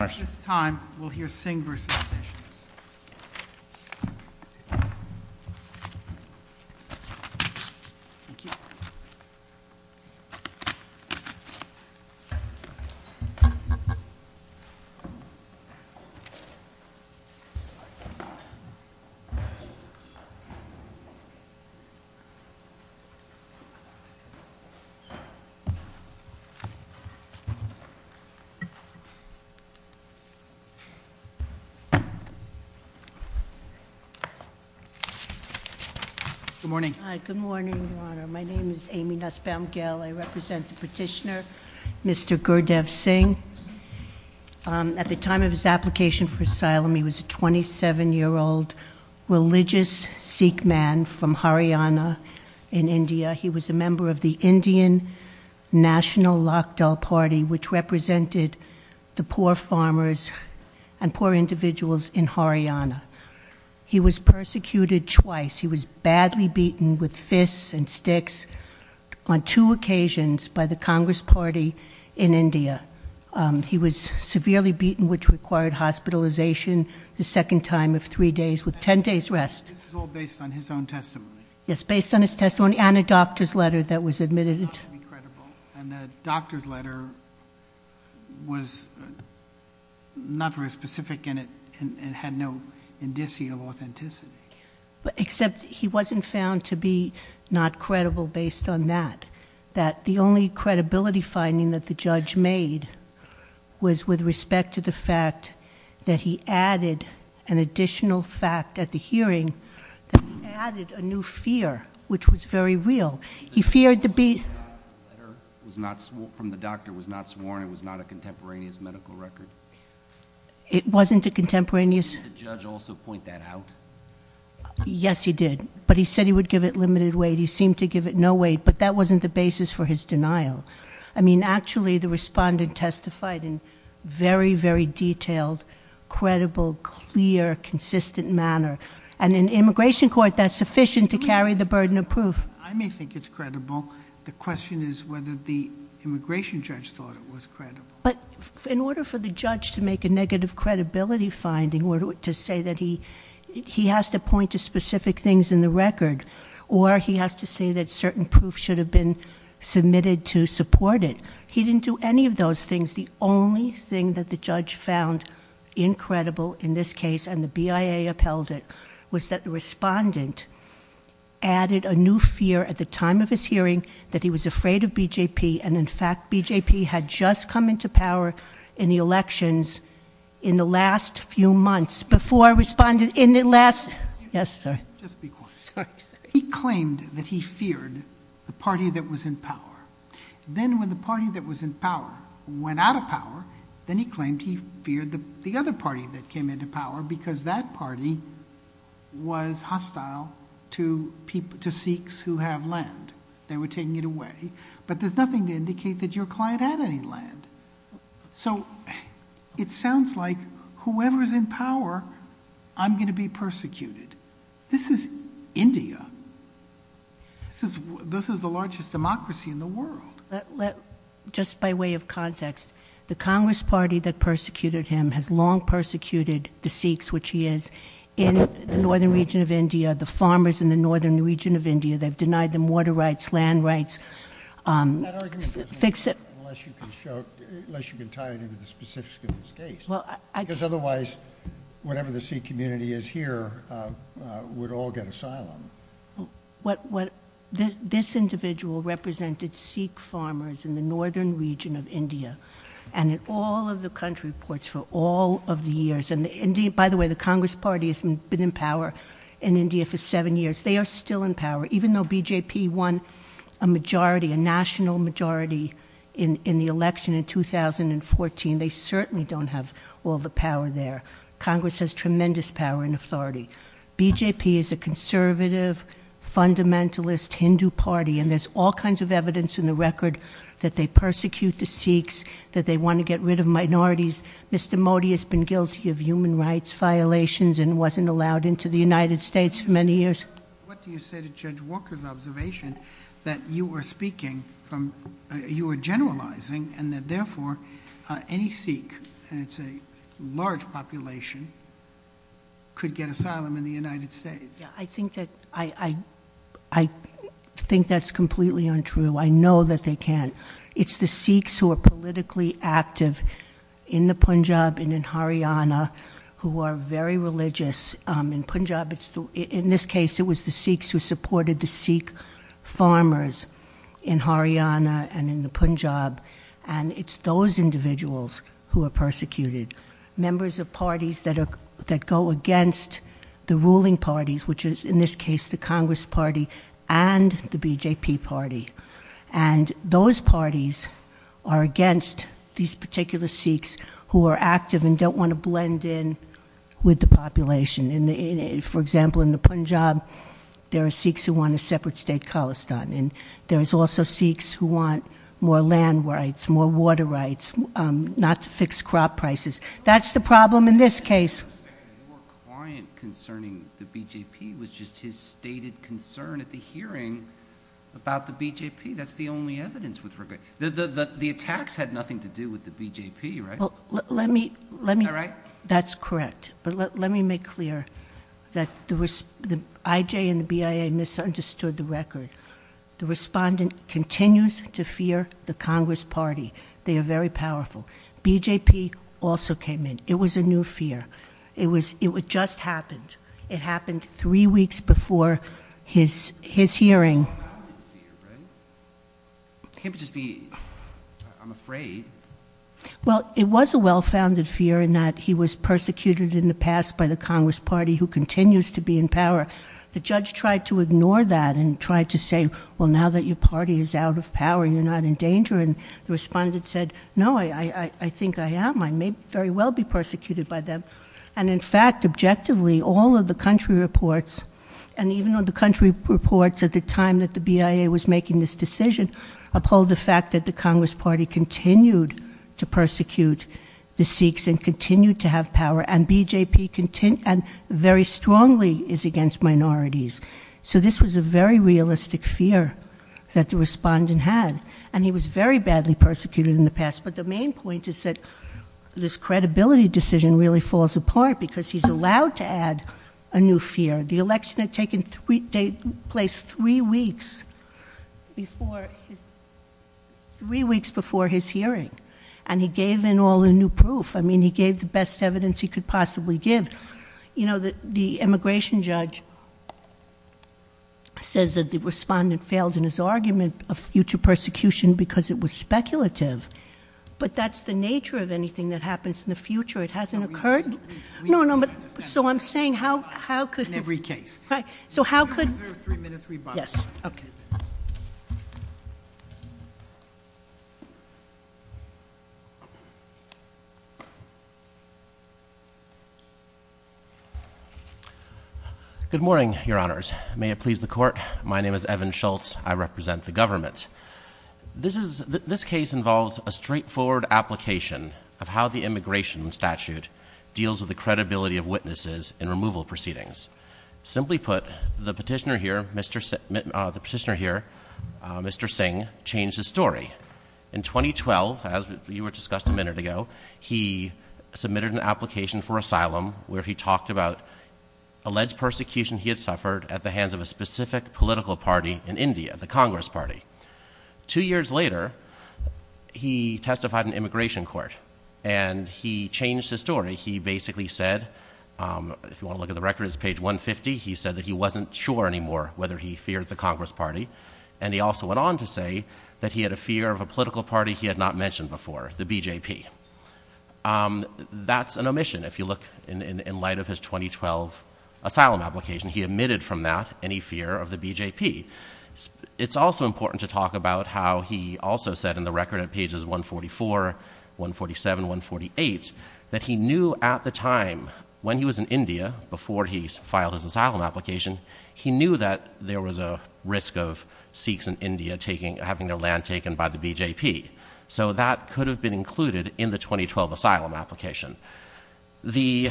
At this time, we'll hear Singh v. Sessions. Good morning. Good morning, Your Honor. My name is Amy Nussbaum-Gell. I represent the petitioner, Mr. Gurdev Singh. At the time of his application for asylum, he was a 27-year-old religious Sikh man from Haryana in India. He was a member of the Indian National Lakhdal Party, which represented the poor farmers and poor individuals in Haryana. He was persecuted twice. He was badly beaten with fists and sticks on two occasions by the Congress Party in India. He was severely beaten, which required hospitalization the second time of three days, with 10 days' rest. This is all based on his own testimony. Yes, based on his testimony and a doctor's letter that was admitted. And the doctor's letter was not very specific in it and had no indicia of authenticity. Except he wasn't found to be not credible based on that. That the only credibility finding that the judge made was with respect to the fact that he added an additional fact at the hearing, that he added a new fear, which was very real. He feared to be- The letter from the doctor was not sworn. It was not a contemporaneous medical record. It wasn't a contemporaneous- Did the judge also point that out? Yes, he did. But he said he would give it limited weight. He seemed to give it no weight, but that wasn't the basis for his denial. I mean, actually, the respondent testified in very, very detailed, credible, clear, consistent manner. And in immigration court, that's sufficient to carry the burden of proof. I may think it's credible. The question is whether the immigration judge thought it was credible. But in order for the judge to make a negative credibility finding, or to say that he has to point to specific things in the record, or he has to say that certain proof should have been submitted to support it, he didn't do any of those things. The only thing that the judge found incredible in this case, and the BIA upheld it, was that the respondent added a new fear at the time of his hearing, that he was afraid of BJP. And in fact, BJP had just come into power in the elections in the last few months. Before I responded, in the last- Yes, sir. Just be quiet. Sorry, sorry. He claimed that he feared the party that was in power. Then when the party that was in power went out of power, then he claimed he feared the other party that came into power, because that party was hostile to Sikhs who have land. They were taking it away. But there's nothing to indicate that your client had any land. So it sounds like whoever's in power, I'm going to be persecuted. This is India. This is the largest democracy in the world. Just by way of context, the Congress party that persecuted him has long persecuted the Sikhs, which he is, in the northern region of India, the farmers in the northern region of India. They've denied them water rights, land rights. That argument doesn't matter unless you can tie it into the specifics of this case. Because otherwise, whatever the Sikh community is here would all get asylum. This individual represented Sikh farmers in the northern region of India and in all of the country reports for all of the years. By the way, the Congress party has been in power in India for seven years. They are still in power, even though BJP won a majority, a national majority in the election in 2014. They certainly don't have all the power there. Congress has tremendous power and authority. BJP is a conservative, fundamentalist Hindu party, and there's all kinds of evidence in the record that they persecute the Sikhs, that they want to get rid of minorities. Mr. Modi has been guilty of human rights violations and wasn't allowed into the United States for many years. What do you say to Judge Walker's observation that you are speaking from, you are generalizing and that therefore any Sikh, and it's a large population, could get asylum in the United States? I think that's completely untrue. I know that they can't. It's the Sikhs who are politically active in the Punjab and in Haryana who are very religious. In Punjab, in this case, it was the Sikhs who supported the Sikh farmers in Haryana and in the Punjab, and it's those individuals who are persecuted, members of parties that go against the ruling parties, which is in this case the Congress party and the BJP party. And those parties are against these particular Sikhs who are active and don't want to blend in with the population. For example, in the Punjab, there are Sikhs who want a separate state, Khalistan, and there is also Sikhs who want more land rights, more water rights, not to fix crop prices. That's the problem in this case. Your client concerning the BJP was just his stated concern at the hearing about the BJP. That's the only evidence with regard. The attacks had nothing to do with the BJP, right? That's correct. But let me make clear that the IJ and the BIA misunderstood the record. The respondent continues to fear the Congress party. They are very powerful. BJP also came in. It was a new fear. It just happened. It happened three weeks before his hearing. It can't just be, I'm afraid. Well, it was a well-founded fear in that he was persecuted in the past by the Congress party who continues to be in power. The judge tried to ignore that and tried to say, well, now that your party is out of power, you're not in danger. And the respondent said, no, I think I am. I may very well be persecuted by them. And in fact, objectively, all of the country reports, and even though the country reports at the time that the BIA was making this decision uphold the fact that the Congress party continued to persecute the Sikhs and continued to have power, and BJP very strongly is against minorities. So this was a very realistic fear that the respondent had. And he was very badly persecuted in the past. But the main point is that this credibility decision really falls apart because he's allowed to add a new fear. The election had taken place three weeks before his hearing. And he gave in all the new proof. I mean, he gave the best evidence he could possibly give. You know, the immigration judge says that the respondent failed in his argument of future persecution because it was speculative. But that's the nature of anything that happens in the future. It hasn't occurred. No, no. So I'm saying how could you. In every case. Right. So how could. Yes. Okay. Good morning, Your Honors. May it please the Court. My name is Evan Schultz. I represent the government. This case involves a straightforward application of how the immigration statute deals with the credibility of witnesses in removal proceedings. Simply put, the petitioner here, Mr. Singh, changed his story. In 2012, as you discussed a minute ago, he submitted an application for asylum where he talked about alleged persecution he had suffered at the hands of a specific political party in India, the Congress Party. Two years later, he testified in immigration court. And he changed his story. He basically said, if you want to look at the record, it's page 150. He said that he wasn't sure anymore whether he feared the Congress Party. And he also went on to say that he had a fear of a political party he had not mentioned before, the BJP. That's an omission if you look in light of his 2012 asylum application. He omitted from that any fear of the BJP. It's also important to talk about how he also said in the record at pages 144, 147, 148, that he knew at the time, when he was in India, before he filed his asylum application, he knew that there was a risk of Sikhs in India having their land taken by the BJP. So that could have been included in the 2012 asylum application. The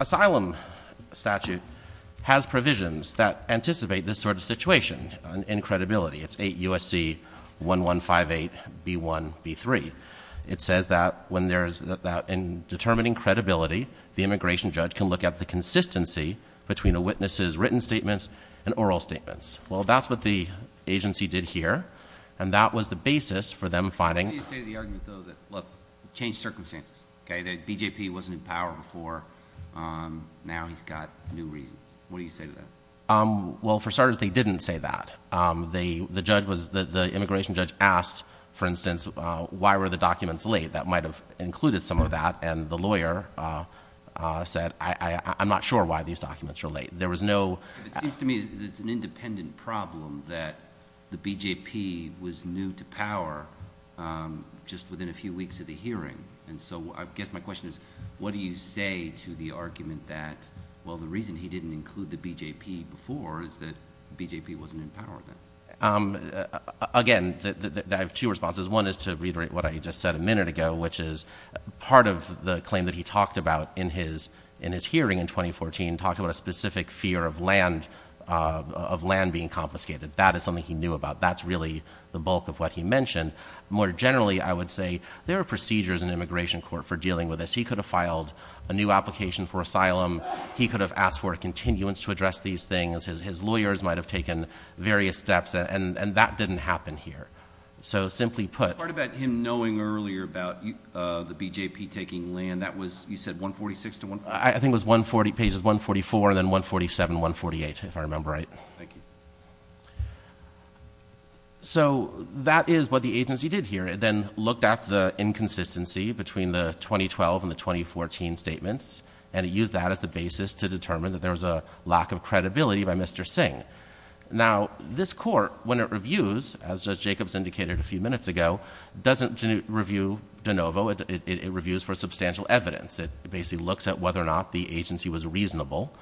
asylum statute has provisions that anticipate this sort of situation in credibility. It's 8 U.S.C. 1158B1B3. It says that in determining credibility, the immigration judge can look at the consistency between a witness's written statements and oral statements. Well, that's what the agency did here. And that was the basis for them finding— What do you say to the argument, though, that, look, change circumstances. The BJP wasn't in power before. Now he's got new reasons. What do you say to that? Well, for starters, they didn't say that. The immigration judge asked, for instance, why were the documents late? That might have included some of that. And the lawyer said, I'm not sure why these documents are late. There was no— It seems to me that it's an independent problem that the BJP was new to power just within a few weeks of the hearing. And so I guess my question is, what do you say to the argument that, well, the reason he didn't include the BJP before is that the BJP wasn't in power then? Again, I have two responses. One is to reiterate what I just said a minute ago, which is part of the claim that he talked about in his hearing in 2014 and talked about a specific fear of land being confiscated. That is something he knew about. That's really the bulk of what he mentioned. More generally, I would say there are procedures in immigration court for dealing with this. He could have filed a new application for asylum. He could have asked for a continuance to address these things. His lawyers might have taken various steps, and that didn't happen here. So simply put— The part about him knowing earlier about the BJP taking land, that was, you said, 146 to 146? I think it was pages 144 and then 147, 148, if I remember right. Thank you. So that is what the agency did here. It then looked at the inconsistency between the 2012 and the 2014 statements, and it used that as a basis to determine that there was a lack of credibility by Mr. Singh. Now, this court, when it reviews, as Judge Jacobs indicated a few minutes ago, doesn't review de novo. It reviews for substantial evidence. It basically looks at whether or not the agency was reasonable,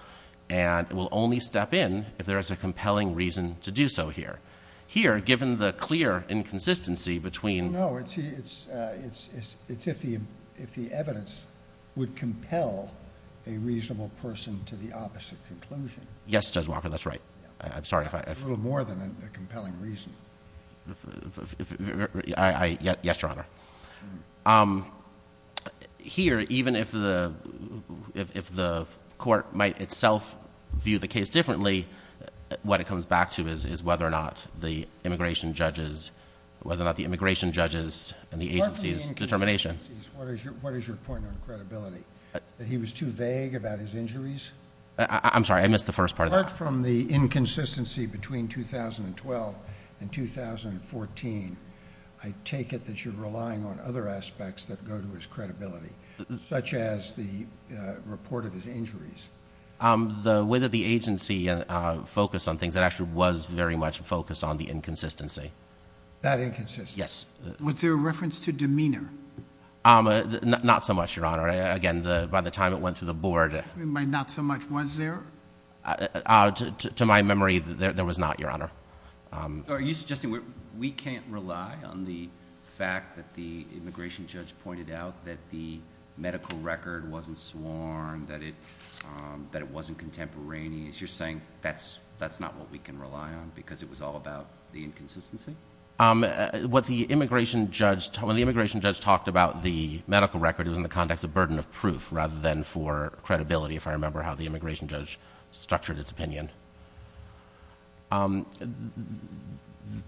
and it will only step in if there is a compelling reason to do so here. Here, given the clear inconsistency between— No, it's if the evidence would compel a reasonable person to the opposite conclusion. Yes, Judge Walker, that's right. That's a little more than a compelling reason. Yes, Your Honor. Here, even if the court might itself view the case differently, what it comes back to is whether or not the immigration judges and the agency's determination— Apart from the inconsistencies, what is your point on credibility? That he was too vague about his injuries? I'm sorry, I missed the first part of that. Apart from the inconsistency between 2012 and 2014, I take it that you're relying on other aspects that go to his credibility, such as the report of his injuries. The way that the agency focused on things, it actually was very much focused on the inconsistency. That inconsistency? Yes. Was there a reference to demeanor? Not so much, Your Honor. Again, by the time it went through the board— By not so much, was there? To my memory, there was not, Your Honor. Are you suggesting we can't rely on the fact that the immigration judge pointed out that the medical record wasn't sworn, that it wasn't contemporaneous? You're saying that's not what we can rely on because it was all about the inconsistency? When the immigration judge talked about the medical record, it was in the context of burden of proof rather than for credibility, if I remember how the immigration judge structured its opinion.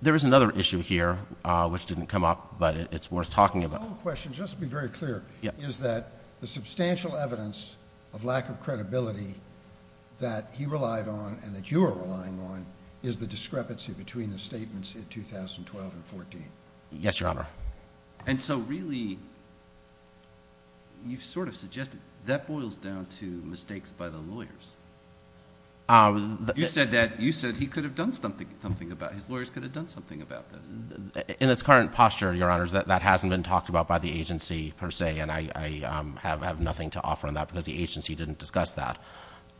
There is another issue here, which didn't come up, but it's worth talking about. His own question, just to be very clear, is that the substantial evidence of lack of credibility that he relied on and that you are relying on is the discrepancy between the statements in 2012 and 2014. Yes, Your Honor. Really, you've sort of suggested that boils down to mistakes by the lawyers. You said he could have done something about it. His lawyers could have done something about this. In its current posture, Your Honor, that hasn't been talked about by the agency per se, and I have nothing to offer on that because the agency didn't discuss that.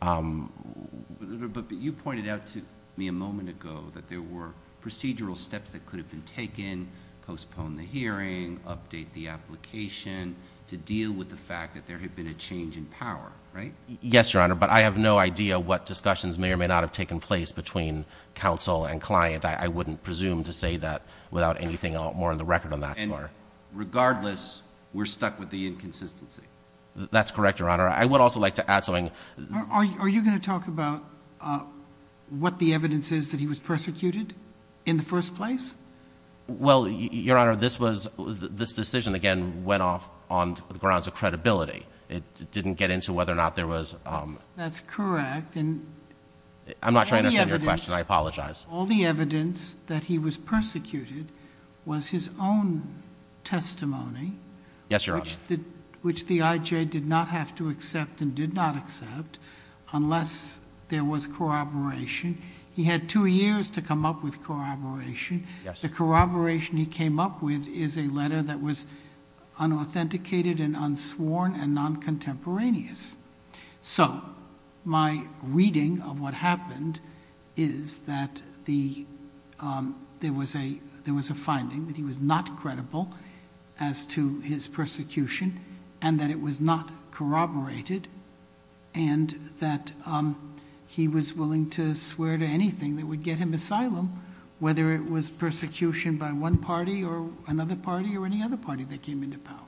But you pointed out to me a moment ago that there were procedural steps that could have been taken, postpone the hearing, update the application, to deal with the fact that there had been a change in power, right? Yes, Your Honor, but I have no idea what discussions may or may not have taken place between counsel and client. I wouldn't presume to say that without anything more on the record on that score. And regardless, we're stuck with the inconsistency. That's correct, Your Honor. I would also like to add something. Are you going to talk about what the evidence is that he was persecuted in the first place? Well, Your Honor, this decision, again, went off on the grounds of credibility. It didn't get into whether or not there was... That's correct. I'm not sure I understand your question. I apologize. All the evidence that he was persecuted was his own testimony... Yes, Your Honor. ...which the IJ did not have to accept and did not accept unless there was corroboration. He had two years to come up with corroboration. The corroboration he came up with is a letter that was unauthenticated and unsworn and non-contemporaneous. So my reading of what happened is that there was a finding that he was not credible as to his persecution and that it was not corroborated and that he was willing to swear to anything that would get him asylum, whether it was persecution by one party or another party or any other party that came into power.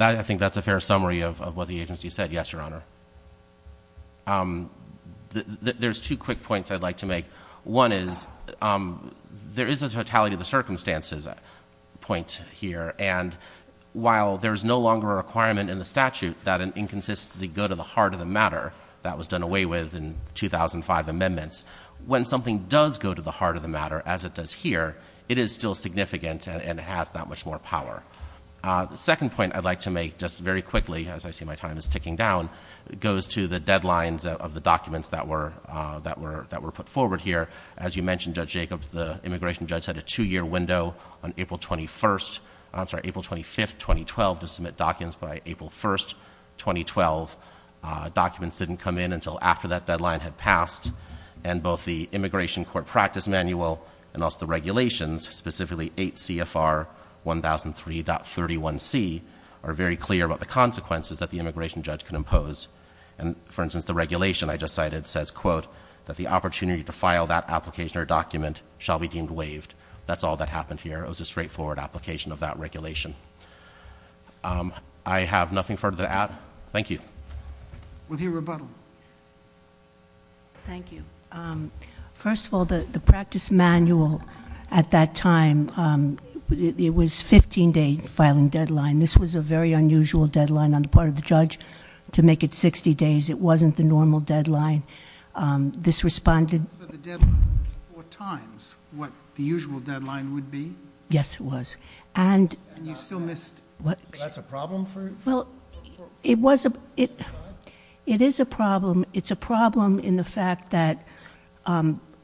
I think that's a fair summary of what the agency said. Yes, Your Honor. There's two quick points I'd like to make. One is there is a totality of the circumstances point here, and while there is no longer a requirement in the statute that an inconsistency go to the heart of the matter, that was done away with in 2005 amendments, when something does go to the heart of the matter, as it does here, it is still significant and has that much more power. The second point I'd like to make just very quickly, as I see my time is ticking down, goes to the deadlines of the documents that were put forward here. As you mentioned, Judge Jacobs, the immigration judge set a two-year window on April 25, 2012, to submit documents by April 1, 2012. Documents didn't come in until after that deadline had passed, and both the immigration court practice manual and also the regulations, specifically 8 CFR 1003.31c, are very clear about the consequences that the immigration judge can impose. For instance, the regulation I just cited says, quote, that the opportunity to file that application or document shall be deemed waived. That's all that happened here. It was a straightforward application of that regulation. I have nothing further to add. Thank you. We'll hear rebuttal. Thank you. First of all, the practice manual at that time, it was 15-day filing deadline. This was a very unusual deadline on the part of the judge to make it 60 days. It wasn't the normal deadline. This responded- So the deadline was four times what the usual deadline would be? Yes, it was. And you still missed- That's a problem for- Well, it is a problem. It's a problem in the fact that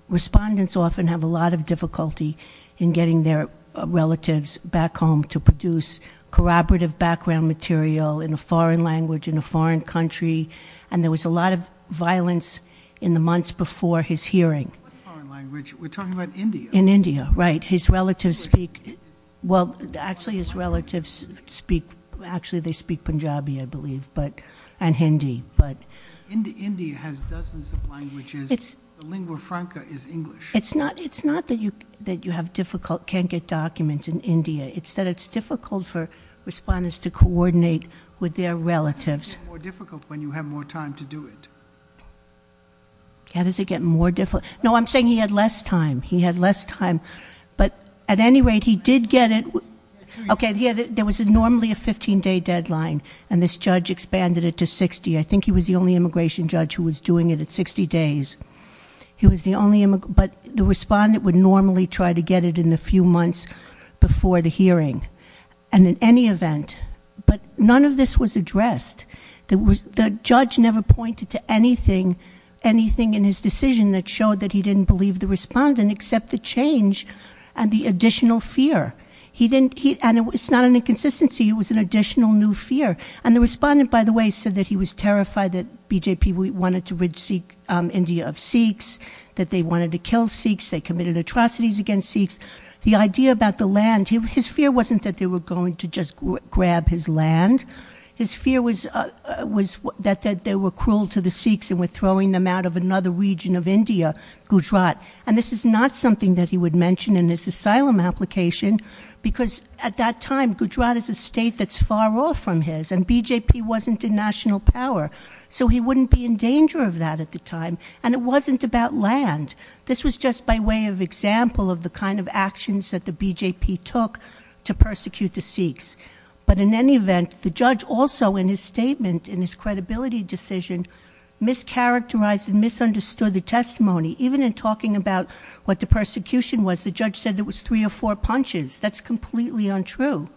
respondents often have a lot of difficulty in getting their relatives back home to produce corroborative background material in a foreign language in a foreign country, and there was a lot of violence in the months before his hearing. What foreign language? We're talking about India. In India, right. His relatives speak- English. Well, actually, his relatives speak- Actually, they speak Punjabi, I believe, and Hindi. India has dozens of languages. The lingua franca is English. It's not that you can't get documents in India. It's that it's difficult for respondents to coordinate with their relatives. How does it get more difficult when you have more time to do it? How does it get more difficult? No, I'm saying he had less time. He had less time, but at any rate, he did get it. Okay, there was normally a 15-day deadline, and this judge expanded it to 60. I think he was the only immigration judge who was doing it at 60 days. But the respondent would normally try to get it in the few months before the hearing. And in any event, but none of this was addressed. The judge never pointed to anything in his decision that showed that he didn't believe the respondent except the change and the additional fear. And it's not an inconsistency. It was an additional new fear. And the respondent, by the way, said that he was terrified that BJP wanted to rid India of Sikhs, that they wanted to kill Sikhs, they committed atrocities against Sikhs. The idea about the land, his fear wasn't that they were going to just grab his land. His fear was that they were cruel to the Sikhs and were throwing them out of another region of India, Gujarat. And this is not something that he would mention in his asylum application, because at that time, Gujarat is a state that's far off from his, and BJP wasn't a national power. So he wouldn't be in danger of that at the time. And it wasn't about land. This was just by way of example of the kind of actions that the BJP took to persecute the Sikhs. But in any event, the judge also in his statement, in his credibility decision, mischaracterized and misunderstood the testimony. Even in talking about what the persecution was, the judge said it was three or four punches. That's completely untrue.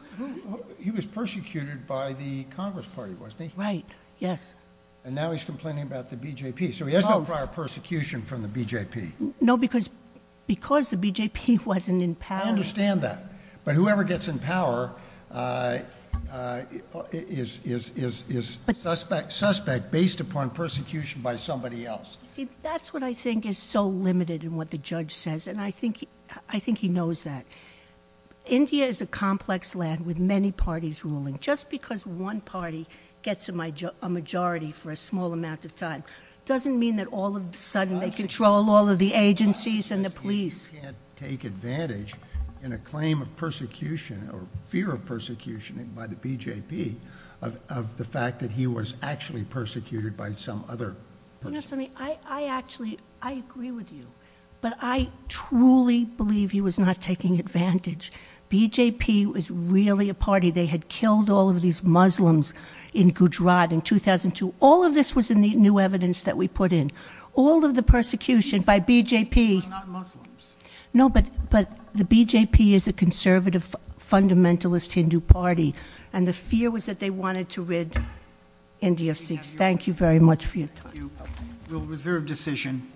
He was persecuted by the Congress Party, wasn't he? Right, yes. And now he's complaining about the BJP. So he has no prior persecution from the BJP. No, because the BJP wasn't in power. I understand that. But whoever gets in power is suspect based upon persecution by somebody else. See, that's what I think is so limited in what the judge says, and I think he knows that. India is a complex land with many parties ruling. Just because one party gets a majority for a small amount of time doesn't mean that all of a sudden they control all of the agencies and the police. He can't take advantage in a claim of persecution or fear of persecution by the BJP of the fact that he was actually persecuted by some other person. I agree with you, but I truly believe he was not taking advantage. BJP was really a party. They had killed all of these Muslims in Gujarat in 2002. All of this was in the new evidence that we put in. All of the persecution by BJP. They were not Muslims. No, but the BJP is a conservative, fundamentalist Hindu party, and the fear was that they wanted to rid India of Sikhs. Thank you very much for your time. We'll reserve decision.